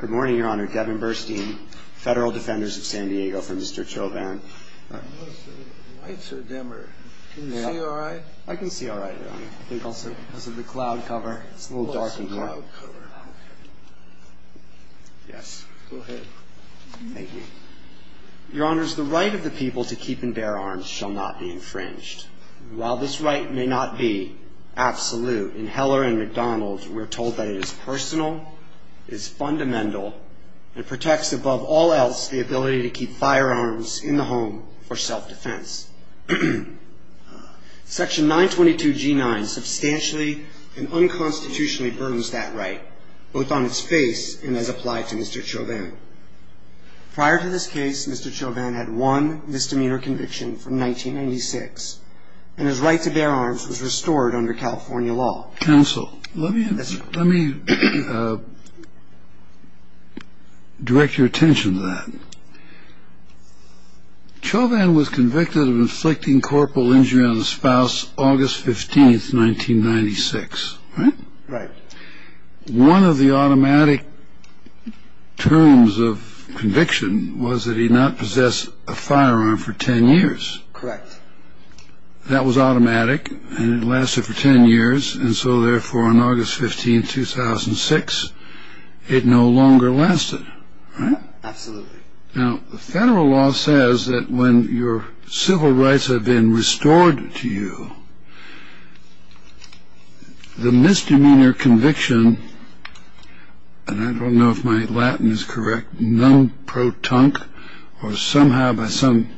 Good morning, Your Honor. Devin Burstein, Federal Defenders of San Diego, for Mr. Chovan. The lights are dimmer. Can you see all right? I can see all right, Your Honor. I think also because of the cloud cover. It's a little dark in here. Cloud cover. Yes. Go ahead. Thank you. Your Honors, the right of the people to keep and bear arms shall not be infringed. While this right may not be absolute, in Heller and McDonald's we're told that it is personal, is fundamental, and protects above all else the ability to keep firearms in the home for self-defense. Section 922G9 substantially and unconstitutionally burdens that right, both on its face and as applied to Mr. Chovan. Prior to this case, Mr. Chovan had one misdemeanor conviction from 1996, and his right to bear arms was restored under California law. Counsel, let me direct your attention to that. Chovan was convicted of inflicting corporal injury on his spouse August 15, 1996, right? Right. One of the automatic terms of conviction was that he not possessed a firearm for 10 years. Correct. That was automatic, and it lasted for 10 years, and so therefore on August 15, 2006, it no longer lasted, right? Absolutely. Now, the federal law says that when your civil rights have been restored to you, the misdemeanor conviction, and I don't know if my Latin is correct, or somehow by some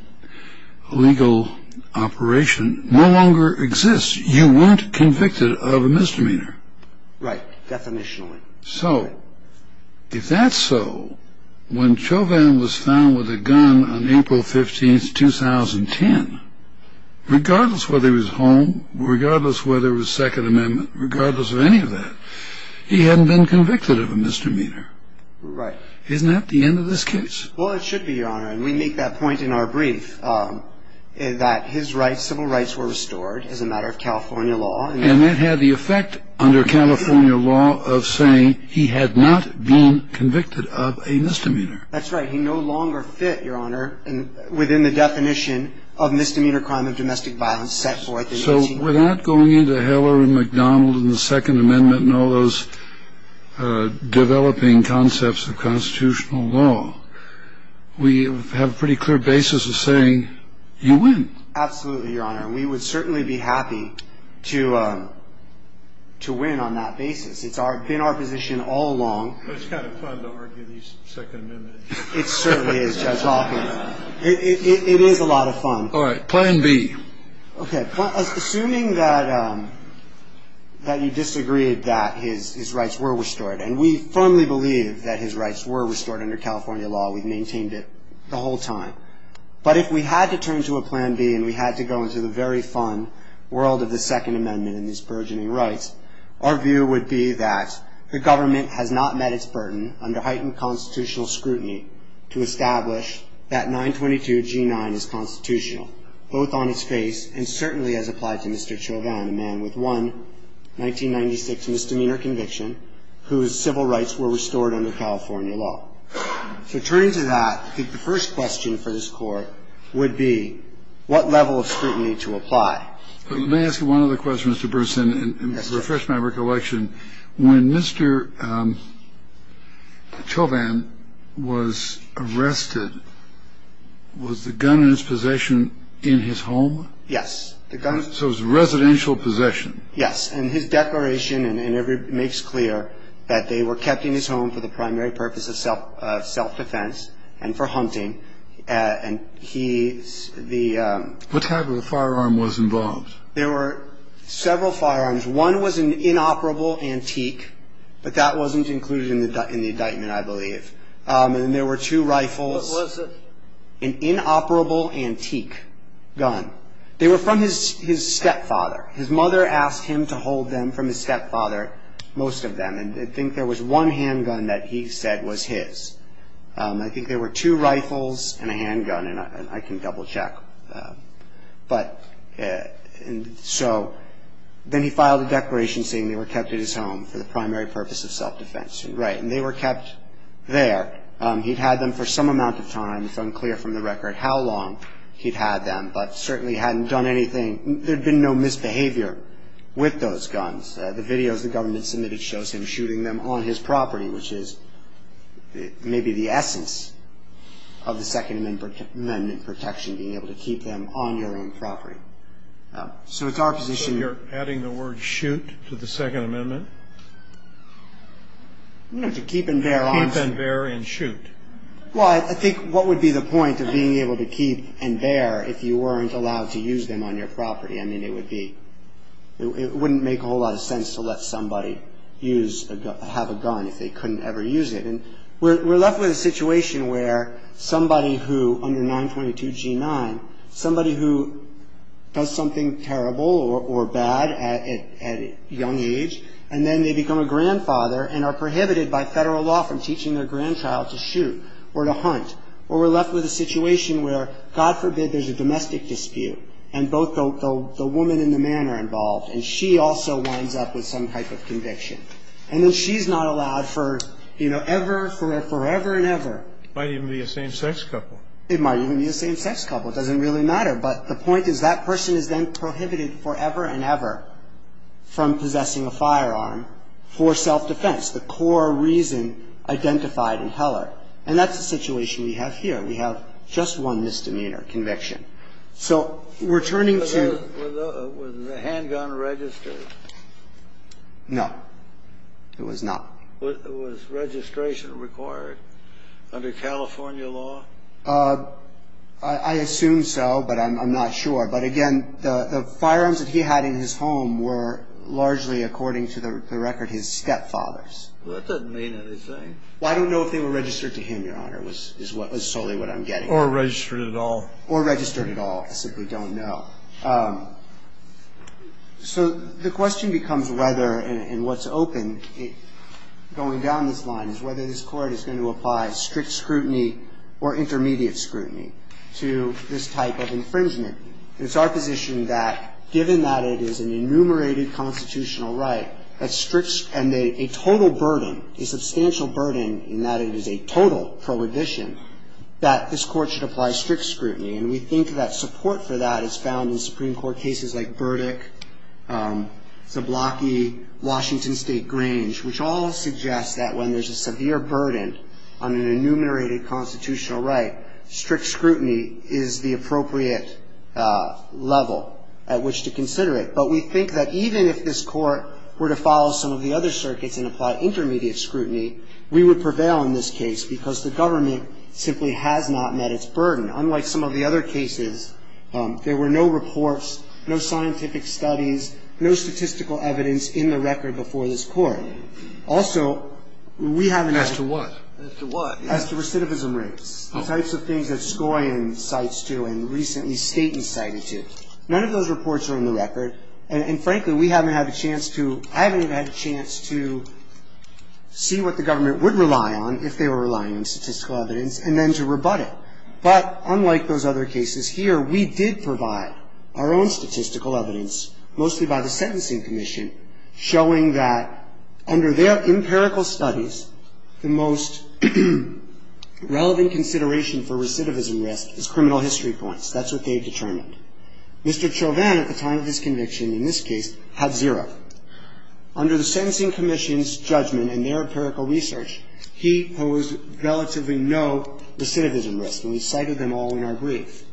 legal operation, no longer exists. You weren't convicted of a misdemeanor. Right, definitionally. So, if that's so, when Chovan was found with a gun on April 15, 2010, regardless of whether he was home, regardless of whether there was Second Amendment, regardless of any of that, he hadn't been convicted of a misdemeanor. Right. Isn't that the end of this case? Well, it should be, Your Honor, and we make that point in our brief, that his civil rights were restored as a matter of California law. And that had the effect under California law of saying he had not been convicted of a misdemeanor. That's right. He no longer fit, Your Honor, within the definition of misdemeanor crime of domestic violence set forth in 1894. Without going into Heller and McDonald and the Second Amendment and all those developing concepts of constitutional law, we have a pretty clear basis of saying you win. Absolutely, Your Honor. We would certainly be happy to win on that basis. It's been our position all along. It's kind of fun to argue these Second Amendments. It certainly is, Judge Hoffman. It is a lot of fun. All right. Plan B. Okay. Assuming that you disagreed that his rights were restored, and we firmly believe that his rights were restored under California law. We've maintained it the whole time. But if we had to turn to a Plan B and we had to go into the very fun world of the Second Amendment and its burgeoning rights, our view would be that the government has not met its burden under heightened constitutional scrutiny to establish that 922G9 is constitutional, both on its face and certainly as applied to Mr. Chauvin, a man with one 1996 misdemeanor conviction whose civil rights were restored under California law. So turning to that, I think the first question for this Court would be what level of scrutiny to apply. Let me ask you one other question, Mr. Bersin, and refresh my recollection. When Mr. Chauvin was arrested, was the gun in his possession in his home? Yes. So it was a residential possession. Yes. And his declaration makes clear that they were kept in his home for the primary purpose of self-defense and for hunting. And he's the... What type of a firearm was involved? There were several firearms. One was an inoperable antique, but that wasn't included in the indictment, I believe. And there were two rifles. What was it? An inoperable antique gun. They were from his stepfather. His mother asked him to hold them from his stepfather, most of them. And I think there was one handgun that he said was his. I think there were two rifles and a handgun, and I can double-check. But so then he filed a declaration saying they were kept in his home for the primary purpose of self-defense. Right. And they were kept there. He'd had them for some amount of time. It's unclear from the record how long he'd had them, but certainly hadn't done anything. There had been no misbehavior with those guns. The videos the government submitted shows him shooting them on his property, which is maybe the essence of the Second Amendment protection, being able to keep them on your own property. So it's our position. So you're adding the word shoot to the Second Amendment? No, to keep and bear arms. Keep and bear and shoot. Well, I think what would be the point of being able to keep and bear if you weren't allowed to use them on your property? I mean, it wouldn't make a whole lot of sense to let somebody have a gun if they couldn't ever use it. And we're left with a situation where somebody who, under 922 G9, somebody who does something terrible or bad at a young age, and then they become a grandfather and are prohibited by federal law from teaching their grandchild to shoot or to hunt. Or we're left with a situation where, God forbid, there's a domestic dispute, and both the woman and the man are involved, and she also winds up with some type of conviction. And then she's not allowed for, you know, ever, forever and ever. It might even be a same-sex couple. It might even be a same-sex couple. It doesn't really matter. But the point is that person is then prohibited forever and ever from possessing a firearm for self-defense, the core reason identified in Heller. And that's the situation we have here. We have just one misdemeanor conviction. So we're turning to. Was the handgun registered? No, it was not. Was registration required under California law? I assume so, but I'm not sure. But, again, the firearms that he had in his home were largely, according to the record, his stepfather's. That doesn't mean anything. Well, I don't know if they were registered to him, Your Honor, is solely what I'm getting at. Or registered at all. Or registered at all. I simply don't know. So the question becomes whether, and what's open going down this line, is whether this Court is going to apply strict scrutiny or intermediate scrutiny to this type of infringement. It's our position that, given that it is an enumerated constitutional right, and a total burden, a substantial burden in that it is a total prohibition, that this Court should apply strict scrutiny. And we think that support for that is found in Supreme Court cases like Burdick, Zablocki, Washington State Grange, which all suggest that when there's a severe burden on an enumerated constitutional right, strict scrutiny is the appropriate level at which to consider it. But we think that even if this Court were to follow some of the other circuits and apply intermediate scrutiny, we would prevail in this case because the government simply has not met its burden. Unlike some of the other cases, there were no reports, no scientific studies, no statistical evidence in the record before this Court. Also, we haven't had to... As to what? As to what? As to recidivism rates, the types of things that Skoyan cites to and recently Staton cited to. None of those reports are in the record. And frankly, we haven't had a chance to... I haven't even had a chance to see what the government would rely on if they were relying on statistical evidence and then to rebut it. But unlike those other cases here, we did provide our own statistical evidence, mostly by the Sentencing Commission, showing that under their empirical studies, the most relevant consideration for recidivism risk is criminal history points. That's what they determined. Mr. Chauvin, at the time of his conviction in this case, had zero. Under the Sentencing Commission's judgment and their empirical research, he posed relatively no recidivism risk, and we cited them all in our brief.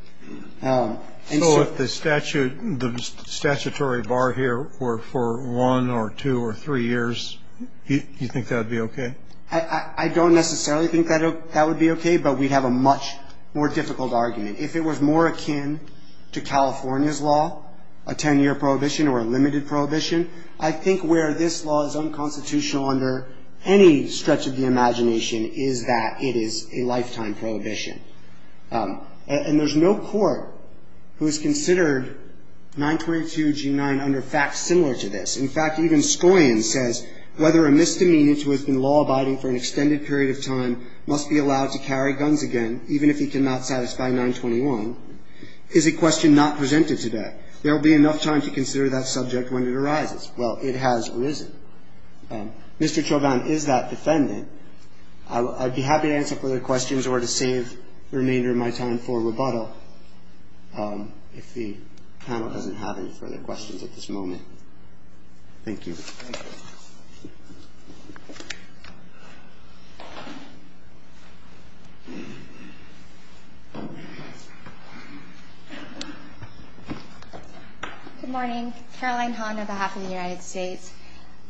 And so... So if the statute, the statutory bar here were for one or two or three years, you think that would be okay? I don't necessarily think that would be okay, but we'd have a much more difficult argument. If it was more akin to California's law, a ten-year prohibition or a limited prohibition, I think where this law is unconstitutional under any stretch of the imagination is that it is a lifetime prohibition. And there's no court who has considered 922G9 under facts similar to this. In fact, even Scoian says, whether a misdemeanor who has been law-abiding for an extended period of time must be allowed to carry guns again, even if he cannot satisfy 921, is a question not presented today. There will be enough time to consider that subject when it arises. Well, it has risen. Mr. Chauvin is that defendant. I'd be happy to answer further questions or to save the remainder of my time for rebuttal if the panel doesn't have any further questions at this moment. Thank you. Thank you. Good morning. Caroline Han on behalf of the United States.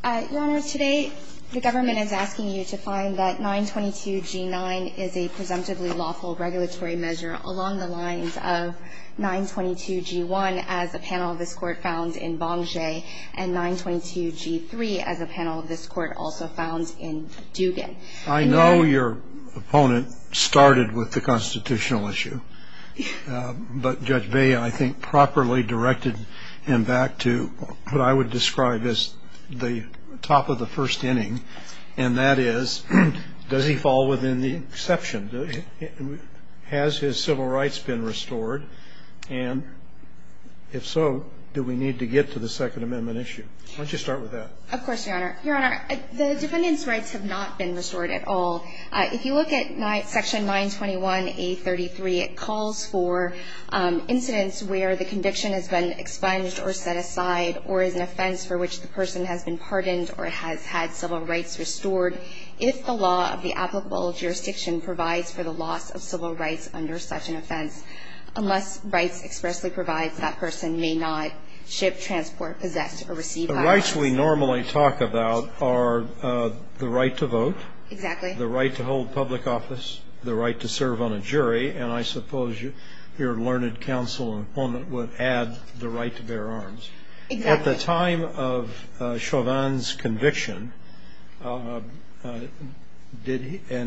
Your Honor, today the government is asking you to find that 922G9 is a presumptively lawful regulatory measure along the lines of 922G1 as the panel of this Court found in Bonge and 922G3 as a panel of this Court also found in Dugan. I know your opponent started with the constitutional issue. But Judge Bea, I think, properly directed him back to what I would describe as the top of the first inning, and that is, does he fall within the exception? Has his civil rights been restored? And if so, do we need to get to the Second Amendment issue? Why don't you start with that? Of course, Your Honor. Your Honor, the defendant's rights have not been restored at all. If you look at section 921A33, it calls for incidents where the conviction has been expunged or set aside or is an offense for which the person has been pardoned or has had civil rights restored if the law of the applicable jurisdiction provides for the loss of civil rights under such an offense unless rights expressly provides that person may not ship, transport, possess, or receive violence. The rights we normally talk about are the right to vote. Exactly. The right to hold public office. The right to serve on a jury. And I suppose your learned counsel and opponent would add the right to bear arms. Exactly. At the time of Chauvin's conviction, and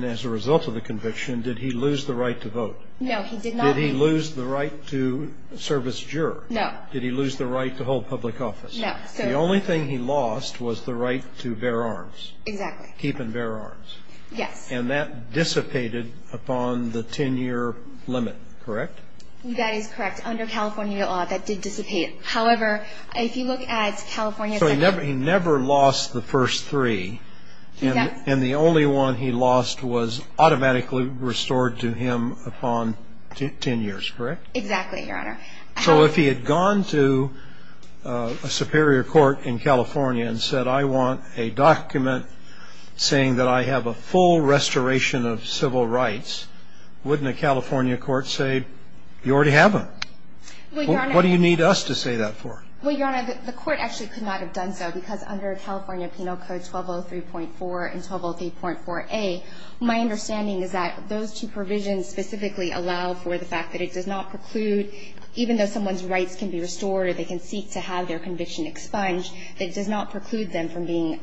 as a result of the conviction, did he lose the right to vote? No, he did not. Did he lose the right to serve as juror? No. Did he lose the right to hold public office? No. The only thing he lost was the right to bear arms. Exactly. Keep and bear arms. Yes. And that dissipated upon the 10-year limit, correct? That is correct. Under California law, that did dissipate. However, if you look at California's. So he never lost the first three. And the only one he lost was automatically restored to him upon 10 years, correct? Exactly, Your Honor. So if he had gone to a superior court in California and said, I want a document saying that I have a full restoration of civil rights, wouldn't a California court say, you already have them? Well, Your Honor. What do you need us to say that for? Well, Your Honor, the court actually could not have done so, because under California Penal Code 1203.4 and 1203.4a, my understanding is that those two provisions specifically allow for the fact that it does not preclude, even though someone's rights can be restored or they can seek to have their conviction expunged, it does not preclude them from being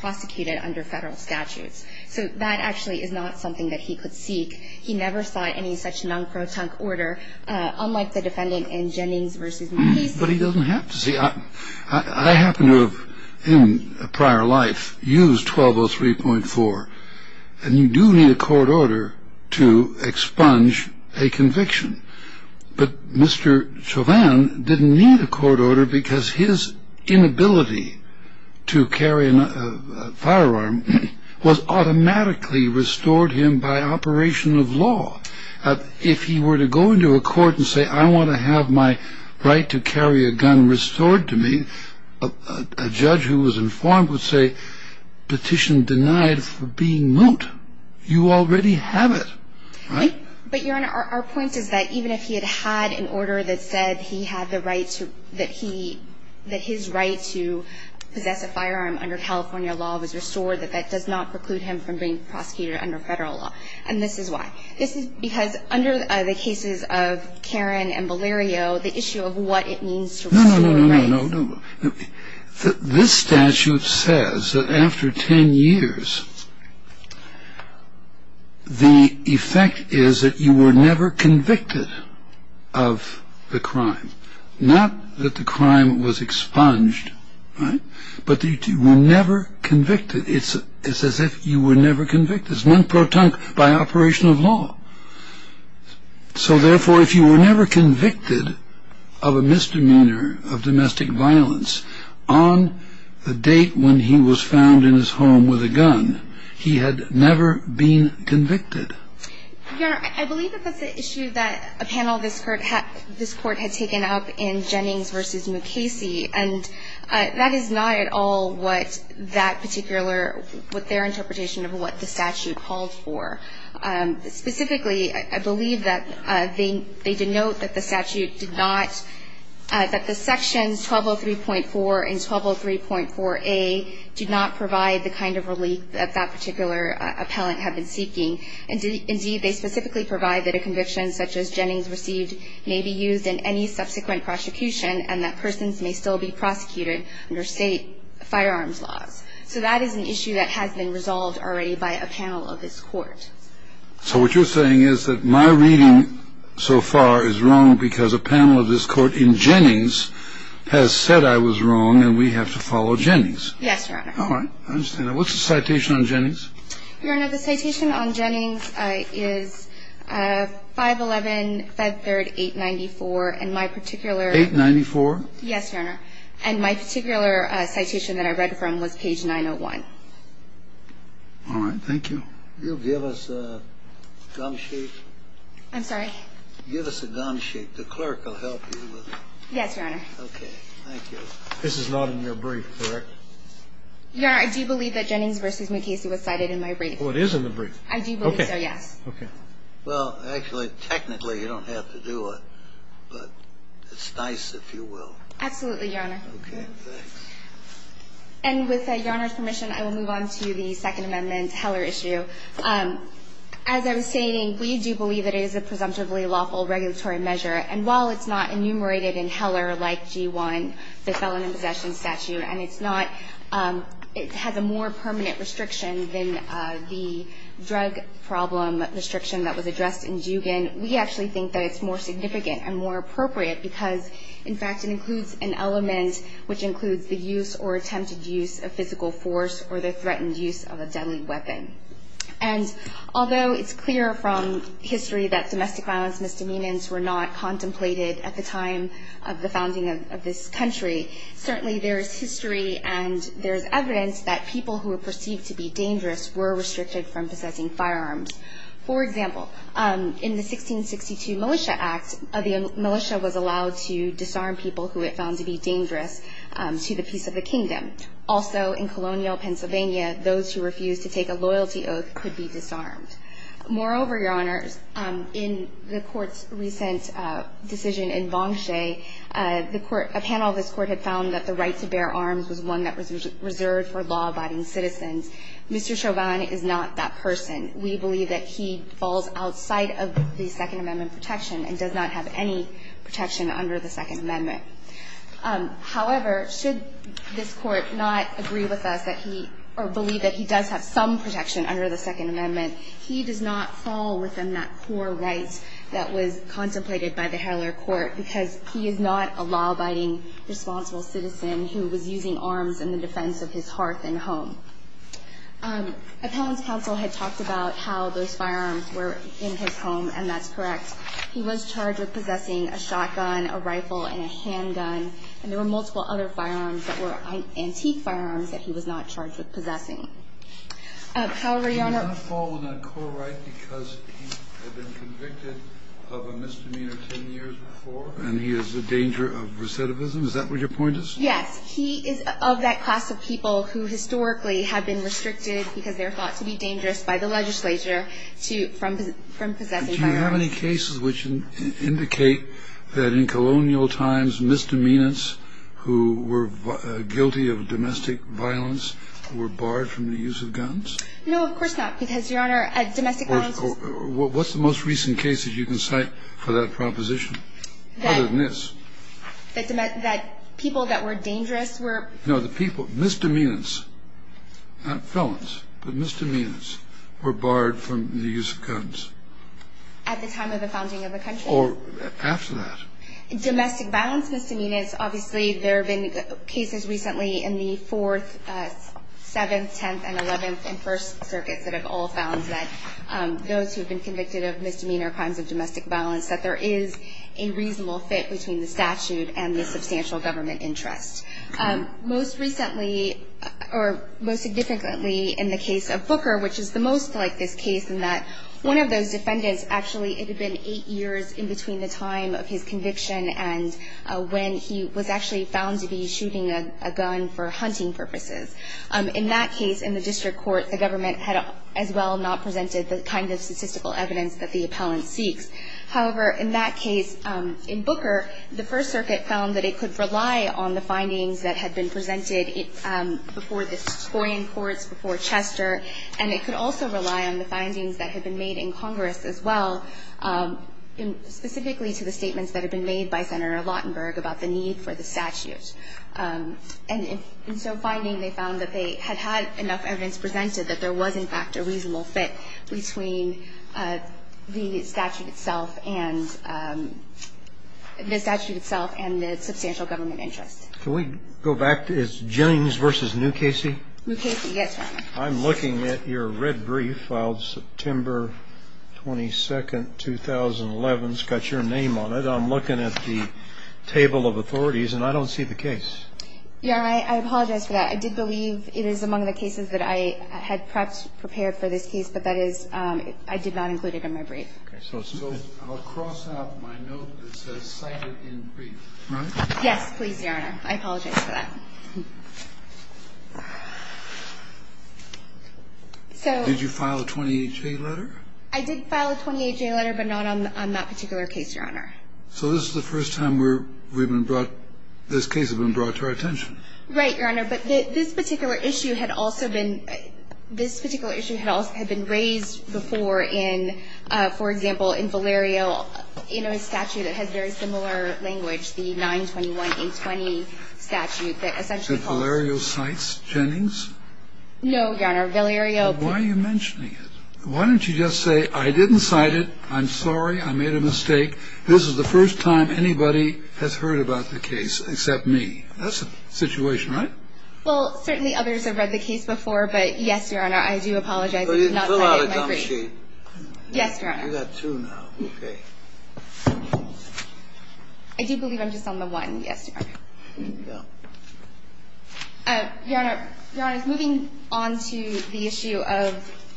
prosecuted under Federal statutes. So that actually is not something that he could seek. He never sought any such non-protunct order, unlike the defendant in Jennings v. McCase. But he doesn't have to seek. I happen to have, in a prior life, used 1203.4, and you do need a court order to expunge a conviction. But Mr. Chauvin didn't need a court order because his inability to carry a firearm was automatically restored him by operation of law. If he were to go into a court and say, I want to have my right to carry a gun restored to me, a judge who was informed would say, petition denied for being moot. You already have it, right? But, Your Honor, our point is that even if he had had an order that said he had the right to, that his right to possess a firearm under California law was restored, that that does not preclude him from being prosecuted under Federal law. And this is why. This is because under the cases of Karen and Valerio, the issue of what it means to restore your rights. No, no, no, no, no, no. This statute says that after 10 years, the effect is that you were never convicted of the crime. Not that the crime was expunged, right? But that you were never convicted. It's as if you were never convicted. It's meant by operation of law. So, therefore, if you were never convicted of a misdemeanor of domestic violence on the date when he was found in his home with a gun, he had never been convicted. Your Honor, I believe that that's an issue that a panel of this court had taken up in Jennings v. Mukasey. And that is not at all what that particular, what their interpretation of what the statute called for. Specifically, I believe that they denote that the statute did not, that the sections 1203.4 and 1203.4A do not provide the kind of relief that that particular appellant had been seeking. Indeed, they specifically provide that a conviction such as Jennings received may be used in any subsequent prosecution and that persons may still be prosecuted under state firearms laws. So that is an issue that has been resolved already by a panel of this court. So what you're saying is that my reading so far is wrong because a panel of this court in Jennings has said I was wrong and we have to follow Jennings. Yes, Your Honor. All right, I understand that. What's the citation on Jennings? Your Honor, the citation on Jennings is 511-538-94 and my particular 894? Yes, Your Honor. And my particular citation that I read from was page 901. All right, thank you. Will you give us a gum sheet? I'm sorry? Give us a gum sheet. The clerk will help you with it. Yes, Your Honor. Okay, thank you. This is not in your brief, correct? Your Honor, I do believe that Jennings v. McCasey was cited in my brief. Well, it is in the brief. I do believe so, yes. Okay. Well, actually, technically, you don't have to do it, but it's nice if you will. Absolutely, Your Honor. Okay, thanks. And with Your Honor's permission, I will move on to the Second Amendment Heller issue. As I was stating, we do believe that it is a presumptively lawful regulatory measure, and while it's not enumerated in Heller like G-1, the Felon in Possession statute, and it's not – it has a more permanent restriction than the drug problem restriction that was addressed in Dugan, we actually think that it's more significant and more appropriate because, in fact, it includes an element which includes the use or attempted use of physical force or the threatened use of a deadly weapon. And although it's clear from history that domestic violence misdemeanors were not contemplated at the time of the founding of this country, certainly there is history and there is evidence that people who were perceived to be dangerous were restricted from possessing firearms. For example, in the 1662 Militia Act, the militia was allowed to disarm people who it found to be dangerous to the peace of the kingdom. Also, in colonial Pennsylvania, those who refused to take a loyalty oath could be disarmed. Moreover, Your Honors, in the Court's recent decision in Bonge Che, the Court – a panel of this Court had found that the right to bear arms was one that was reserved for law-abiding citizens. Mr. Chauvin is not that person. We believe that he falls outside of the Second Amendment protection and does not have any protection under the Second Amendment. However, should this Court not agree with us that he – or believe that he does have some protection under the Second Amendment, he does not fall within that core right that was contemplated by the Heller Court because he is not a law-abiding responsible citizen who was using arms in the defense of his hearth and home. Appellant's counsel had talked about how those firearms were in his home, and that's correct. He was charged with possessing a shotgun, a rifle, and a handgun, and there were multiple other firearms that were antique firearms that he was not charged with possessing. However, Your Honor – He did not fall within that core right because he had been convicted of a misdemeanor 10 years before, and he is the danger of recidivism? Is that what your point is? Yes. He is of that class of people who historically have been restricted because they're thought to be dangerous by the legislature to – from possessing firearms. Do you have any cases which indicate that in colonial times misdemeanors who were guilty of domestic violence were barred from the use of guns? No, of course not, because, Your Honor, domestic violence was – What's the most recent case that you can cite for that proposition? Other than this. That people that were dangerous were – No, the people – misdemeanors, not felons, but misdemeanors were barred from the use of guns. At the time of the founding of the country? Or after that. Domestic violence misdemeanors, obviously there have been cases recently in the Fourth, Seventh, Tenth, and Eleventh and First Circuits that have all found that those who have been convicted of misdemeanor crimes of domestic violence, that there is a reasonable fit between the statute and the substantial government interest. Most recently, or most significantly in the case of Booker, which is the most like this case, in that one of those defendants, actually, it had been eight years in between the time of his conviction and when he was actually found to be shooting a gun for hunting purposes. In that case, in the district court, the government had as well not presented the kind of statistical evidence that the appellant seeks. However, in that case, in Booker, the First Circuit found that it could rely on the findings that had been presented before the scoring courts, before Chester, and it could also rely on the findings that had been made in Congress as well, specifically to the statements that had been made by Senator Lautenberg about the need for the statute. And in so finding, they found that they had had enough evidence presented that there was, in fact, a reasonable fit between the statute itself and the substantial government interest. Can we go back? Is James versus Newcasey? Newcasey, yes, Your Honor. I'm looking at your red brief filed September 22nd, 2011. It's got your name on it. I'm looking at the table of authorities, and I don't see the case. Yeah. I apologize for that. I did believe it is among the cases that I had perhaps prepared for this case, but that is, I did not include it in my brief. Okay. So I'll cross out my note that says cited in brief. Right. Yes, please, Your Honor. I apologize for that. Did you file a 28-J letter? I did file a 28-J letter, but not on that particular case, Your Honor. So this is the first time where we've been brought, this case has been brought to our attention. Right, Your Honor. But this particular issue had also been, this particular issue had also been raised before in, for example, in Valerio, you know, a statute that has very similar language, the 921-820 statute that essentially calls for. Did Valerio cite Jennings? No, Your Honor. Valerio. Why are you mentioning it? Why don't you just say, I didn't cite it. I'm sorry. I made a mistake. This is the first time anybody has heard about the case except me. That's the situation, right? Well, certainly others have read the case before, but yes, Your Honor, I do apologize for not citing it in my brief. Yes, Your Honor. You got two now. Okay. I do believe I'm just on the one. Yes, Your Honor. Your Honor, Your Honor, moving on to the issue of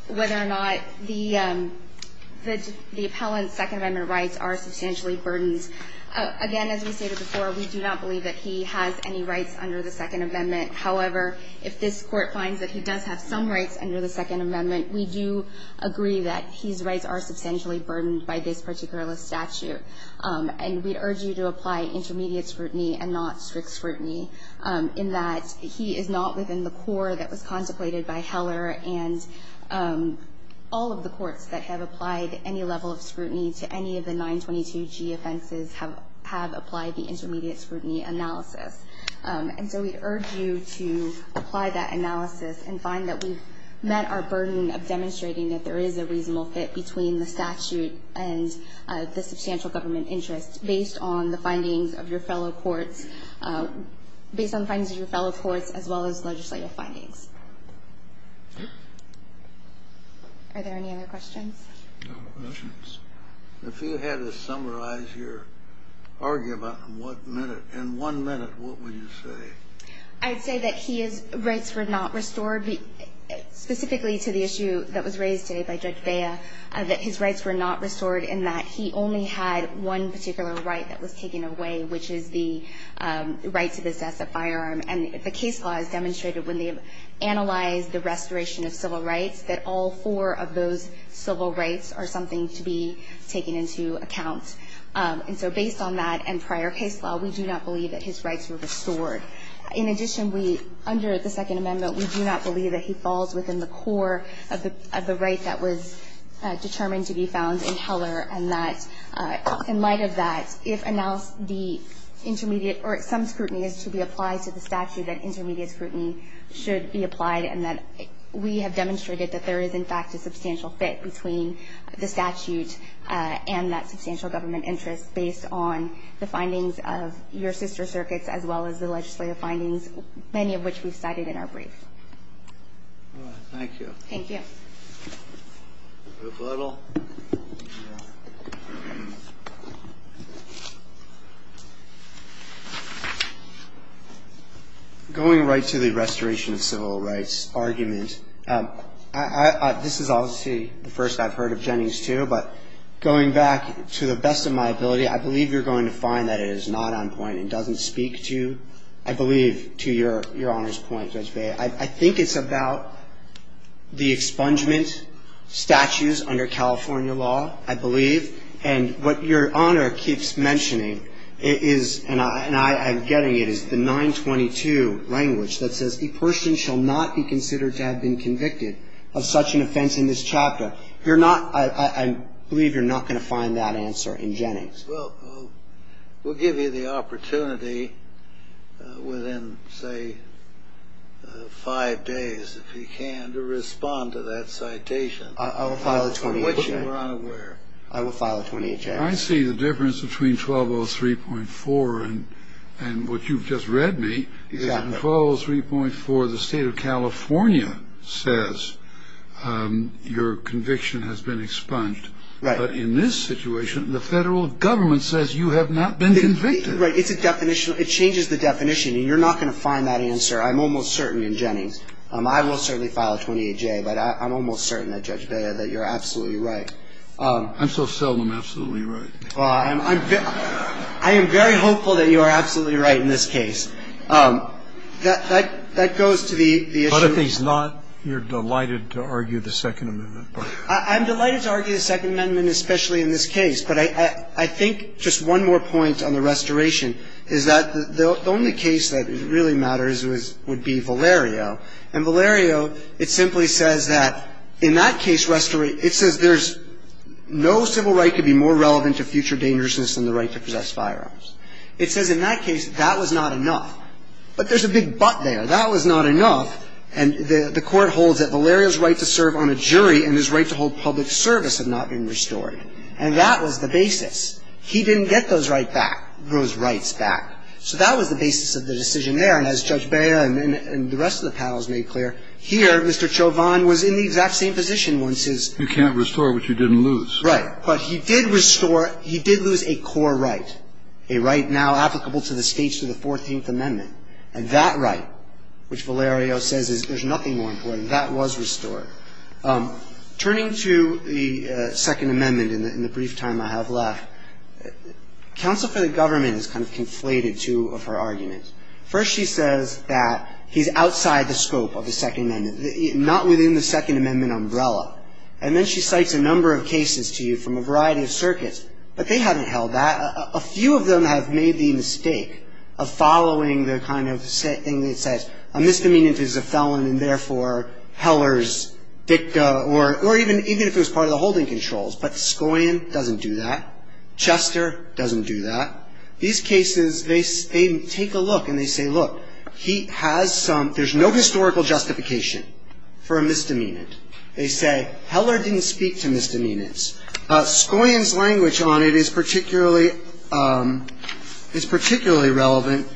whether or not the appellant's Second Amendment rights are substantially burdened, again, as we stated before, we do not believe that he has any rights under the Second Amendment. However, if this Court finds that he does have some rights under the Second Amendment, we do agree that his rights are substantially burdened by this particular statute, and we urge you to apply intermediate scrutiny and not strict scrutiny in that he is not within the core that was contemplated by Heller, and all of the courts that have applied any level of scrutiny to any of the 922G offenses have applied the intermediate scrutiny analysis. And so we urge you to apply that analysis and find that we've met our burden of reasonable fit between the statute and the substantial government interest based on the findings of your fellow courts as well as legislative findings. Are there any other questions? No questions. If you had to summarize your argument in one minute, what would you say? I'd say that his rights were not restored specifically to the issue that was raised today by Judge Bea, that his rights were not restored in that he only had one particular right that was taken away, which is the right to possess a firearm. And the case law has demonstrated when they analyzed the restoration of civil rights that all four of those civil rights are something to be taken into account. And so based on that and prior case law, we do not believe that his rights were restored. In addition, we, under the Second Amendment, we do not believe that he falls within the core of the right that was determined to be found in Heller and that in light of that, if announced the intermediate or some scrutiny is to be applied to the statute, that intermediate scrutiny should be applied and that we have demonstrated that there is, in fact, a substantial fit between the statute and that substantial government interest based on the findings of your sister circuits as well as the legislative findings, many of which we cited in our brief. Thank you. Going right to the restoration of civil rights argument, this is obviously the first I've heard of Jenny's too, but going back to the best of my ability, I believe you're going to find that it is not on point and doesn't speak to, I believe, to your Honor's point, Judge Bea. I think it's about the expungement statutes under California law, I believe, and what your Honor keeps mentioning is, and I'm getting it, is the 922 language that says, a person shall not be considered to have been convicted of such an offense in this chapter. You're not, I believe you're not going to find that answer in Jenny's. Well, we'll give you the opportunity within, say, five days, if you can, to respond to that citation. I will file a 28-J. I will file a 28-J. I see the difference between 1203.4 and what you've just read me. 1203.4, the state of California says your conviction has been expunged. But in this situation, the federal government says you have not been convicted. It changes the definition, and you're not going to find that answer, I'm almost certain, in Jenny's. I will certainly file a 28-J, but I'm almost certain that, Judge Bea, that you're absolutely right. I'm so seldom absolutely right. Well, I'm very hopeful that you are absolutely right in this case. That goes to the issue of the statute. But if he's not, you're delighted to argue the Second Amendment. I'm delighted to argue the Second Amendment, especially in this case. But I think just one more point on the restoration is that the only case that really matters would be Valerio. And Valerio, it simply says that, in that case, it says there's no civil right to be more relevant to future dangerousness than the right to possess firearms. It says in that case that that was not enough. But there's a big but there. That was not enough. And the Court holds that Valerio's right to serve on a jury and his right to hold public service have not been restored. And that was the basis. He didn't get those rights back. So that was the basis of the decision there. And as Judge Bea and the rest of the panel has made clear, here Mr. Chauvin was in the exact same position once his ---- You can't restore what you didn't lose. Right. But he did restore he did lose a core right, a right now applicable to the States to the 14th Amendment. And that right, which Valerio says is there's nothing more important, that was restored. Turning to the Second Amendment in the brief time I have left, counsel for the government has kind of conflated two of her arguments. First she says that he's outside the scope of the Second Amendment, not within the Second Amendment umbrella. And then she cites a number of cases to you from a variety of circuits. But they haven't held that. A few of them have made the mistake of following the kind of thing that says a misdemeanant is a felon and therefore hellers DICA or even if it was part of the holding controls. But Scoian doesn't do that. Chester doesn't do that. These cases, they take a look and they say, look, he has some ---- there's no historical justification for a misdemeanant. They say heller didn't speak to misdemeanants. Scoian's language on it is particularly relevant.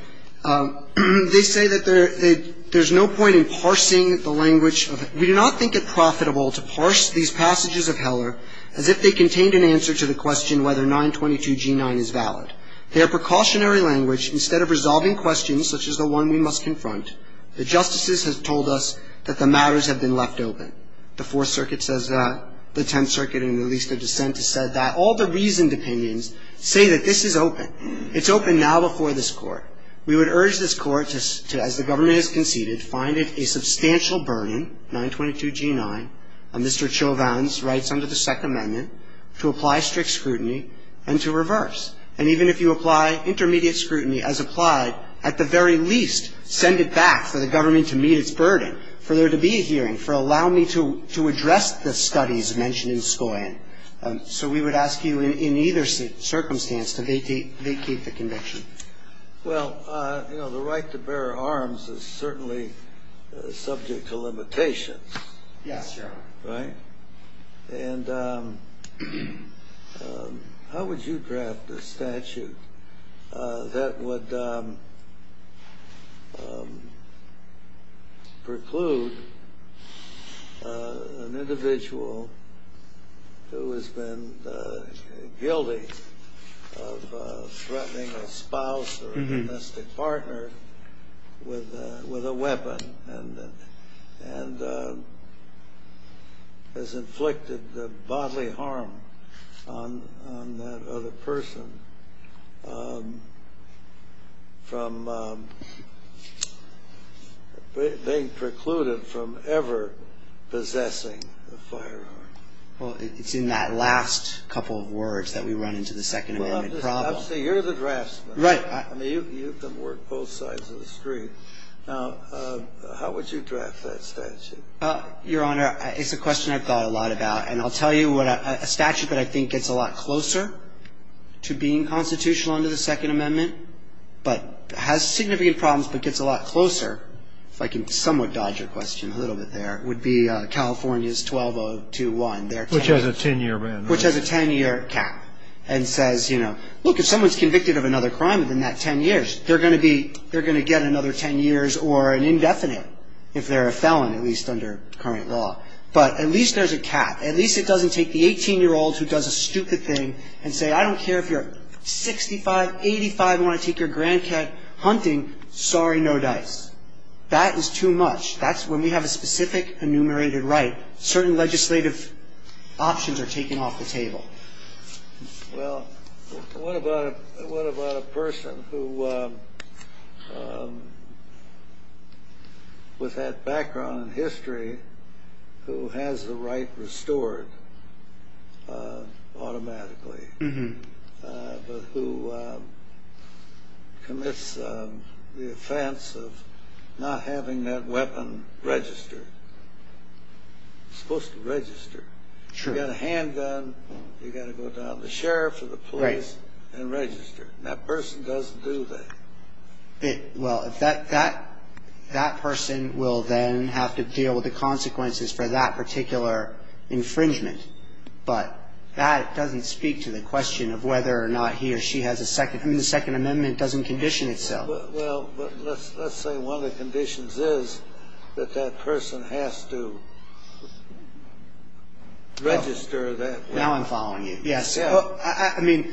They say that there's no point in parsing the language. We do not think it profitable to parse these passages of heller as if they contained an answer to the question whether 922G9 is valid. They are precautionary language. Instead of resolving questions such as the one we must confront, the justices have told us that the matters have been left open. The Fourth Circuit says that. The Tenth Circuit in the least of dissent has said that. All the reasoned opinions say that this is open. It's open now before this Court. We would urge this Court to, as the government has conceded, find it a substantial burden, 922G9, Mr. Chauvin's rights under the Second Amendment, to apply strict scrutiny and to reverse. And even if you apply intermediate scrutiny as applied, at the very least, send it back for the government to meet its burden, for there to be a hearing, for allowing me to address the studies mentioned in Scoian. So we would ask you in either circumstance to vacate the conviction. Well, you know, the right to bear arms is certainly subject to limitations. Yes, Your Honor. Right? And how would you draft a statute that would preclude an individual who has been guilty of threatening a spouse or a domestic partner with a weapon and has inflicted bodily harm on that other person from being precluded from ever possessing a firearm? Well, it's in that last couple of words that we run into the Second Amendment problem. Well, I'm saying you're the draftsman. Right. I mean, you can work both sides of the street. Now, how would you draft that statute? Your Honor, it's a question I've thought a lot about. And I'll tell you what a statute that I think gets a lot closer to being constitutional under the Second Amendment but has significant problems but gets a lot closer, if I can somewhat dodge your question a little bit there, would be California's 12021. Which has a 10-year ban. Which has a 10-year cap and says, you know, look, if someone's convicted of another crime within that 10 years, they're going to get another 10 years or an indefinite if they're a felon, at least under current law. But at least there's a cap. At least it doesn't take the 18-year-old who does a stupid thing and say, I don't care if you're 65, 85 and want to take your grandkid hunting, sorry, no dice. That is too much. That's when we have a specific enumerated right. Certain legislative options are taken off the table. Well, what about a person who, with that background in history, who has the right restored automatically but who commits the offense of not having that weapon registered? You've got a handgun, you've got to go down to the sheriff or the police and register. That person doesn't do that. Well, that person will then have to deal with the consequences for that particular infringement. But that doesn't speak to the question of whether or not he or she has a second. I mean, the Second Amendment doesn't condition itself. Well, let's say one of the conditions is that that person has to register that. Now I'm following you. Yes. I mean,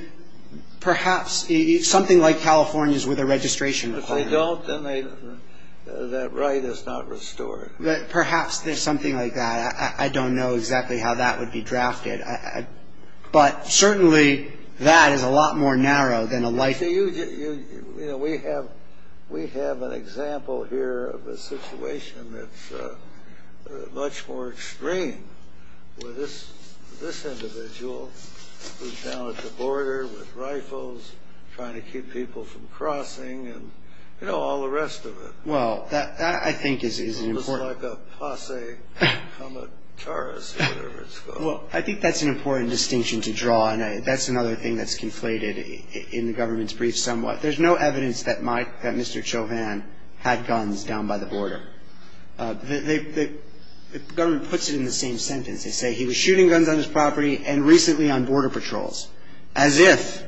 perhaps something like California's with a registration requirement. If they don't, then that right is not restored. Perhaps there's something like that. I don't know exactly how that would be drafted. But certainly that is a lot more narrow than a life sentence. You know, we have an example here of a situation that's much more extreme with this individual who's down at the border with rifles trying to keep people from crossing and, you know, all the rest of it. Well, that, I think, is important. It's like a posse comitatus or whatever it's called. Well, I think that's an important distinction to draw, and that's another thing that's conflated in the government's brief somewhat. There's no evidence that Mr. Chauvin had guns down by the border. The government puts it in the same sentence. They say he was shooting guns on his property and recently on border patrols, as if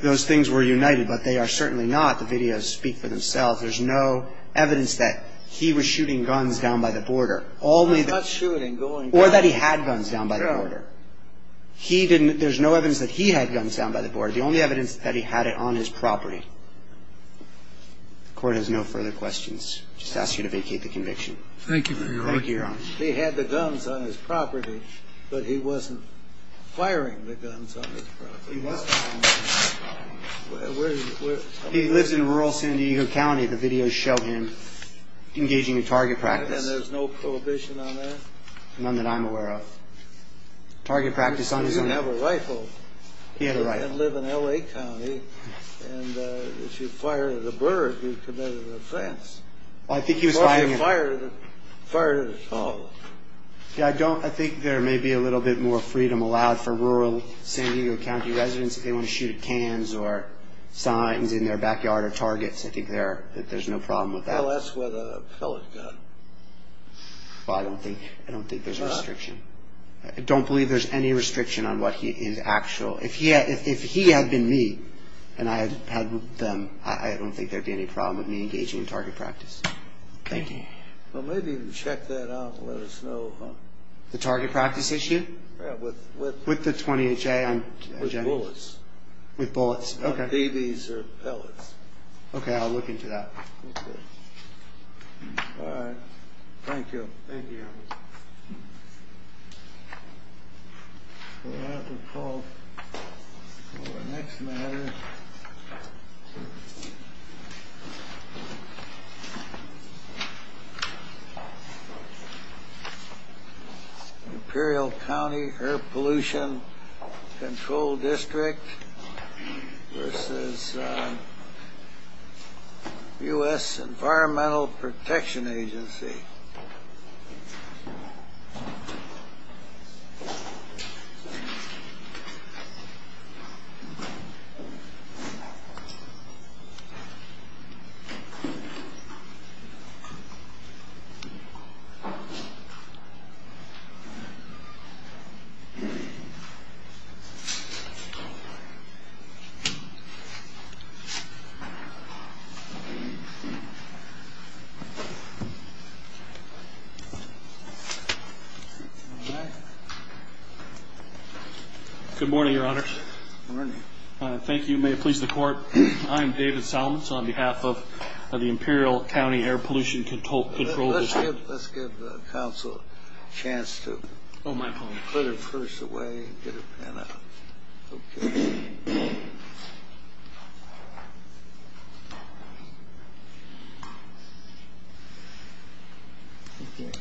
those things were united, but they are certainly not. The videos speak for themselves. There's no evidence that he was shooting guns down by the border. Or that he had guns down by the border. There's no evidence that he had guns down by the border. The only evidence is that he had it on his property. The Court has no further questions. I just ask you to vacate the conviction. Thank you, Your Honor. Thank you, Your Honor. He had the guns on his property, but he wasn't firing the guns on his property. He lived in rural San Diego County. The videos show him engaging in target practice. And there's no prohibition on that? None that I'm aware of. Target practice on his own? He didn't have a rifle. He had a rifle. He didn't live in L.A. County. And if you fired at a bird, you committed an offense. Well, I think he was firing at... He probably fired at a dog. Yeah, I think there may be a little bit more freedom allowed for rural San Diego County residents if they want to shoot cans or signs in their backyard or targets. I think there's no problem with that. Well, that's with a pellet gun. Well, I don't think there's a restriction. I don't believe there's any restriction on what he is actual. If he had been me and I had had them, I don't think there would be any problem with me engaging in target practice. Thank you. Well, maybe you can check that out and let us know. The target practice issue? Yeah, with... With the .28 J? With bullets. With bullets, okay. On BBs or pellets. Okay, I'll look into that. Okay. All right. Thank you. Thank you. We'll have to call for the next matter. Okay. Imperial County Air Pollution Control District versus U.S. Environmental Protection Agency. All right. Good morning, Your Honor. Good morning. Thank you. May it please the Court. I am David Salmons on behalf of the Imperial County Air Pollution Control District. Let's give counsel a chance to put her purse away and get her pen out. Okay.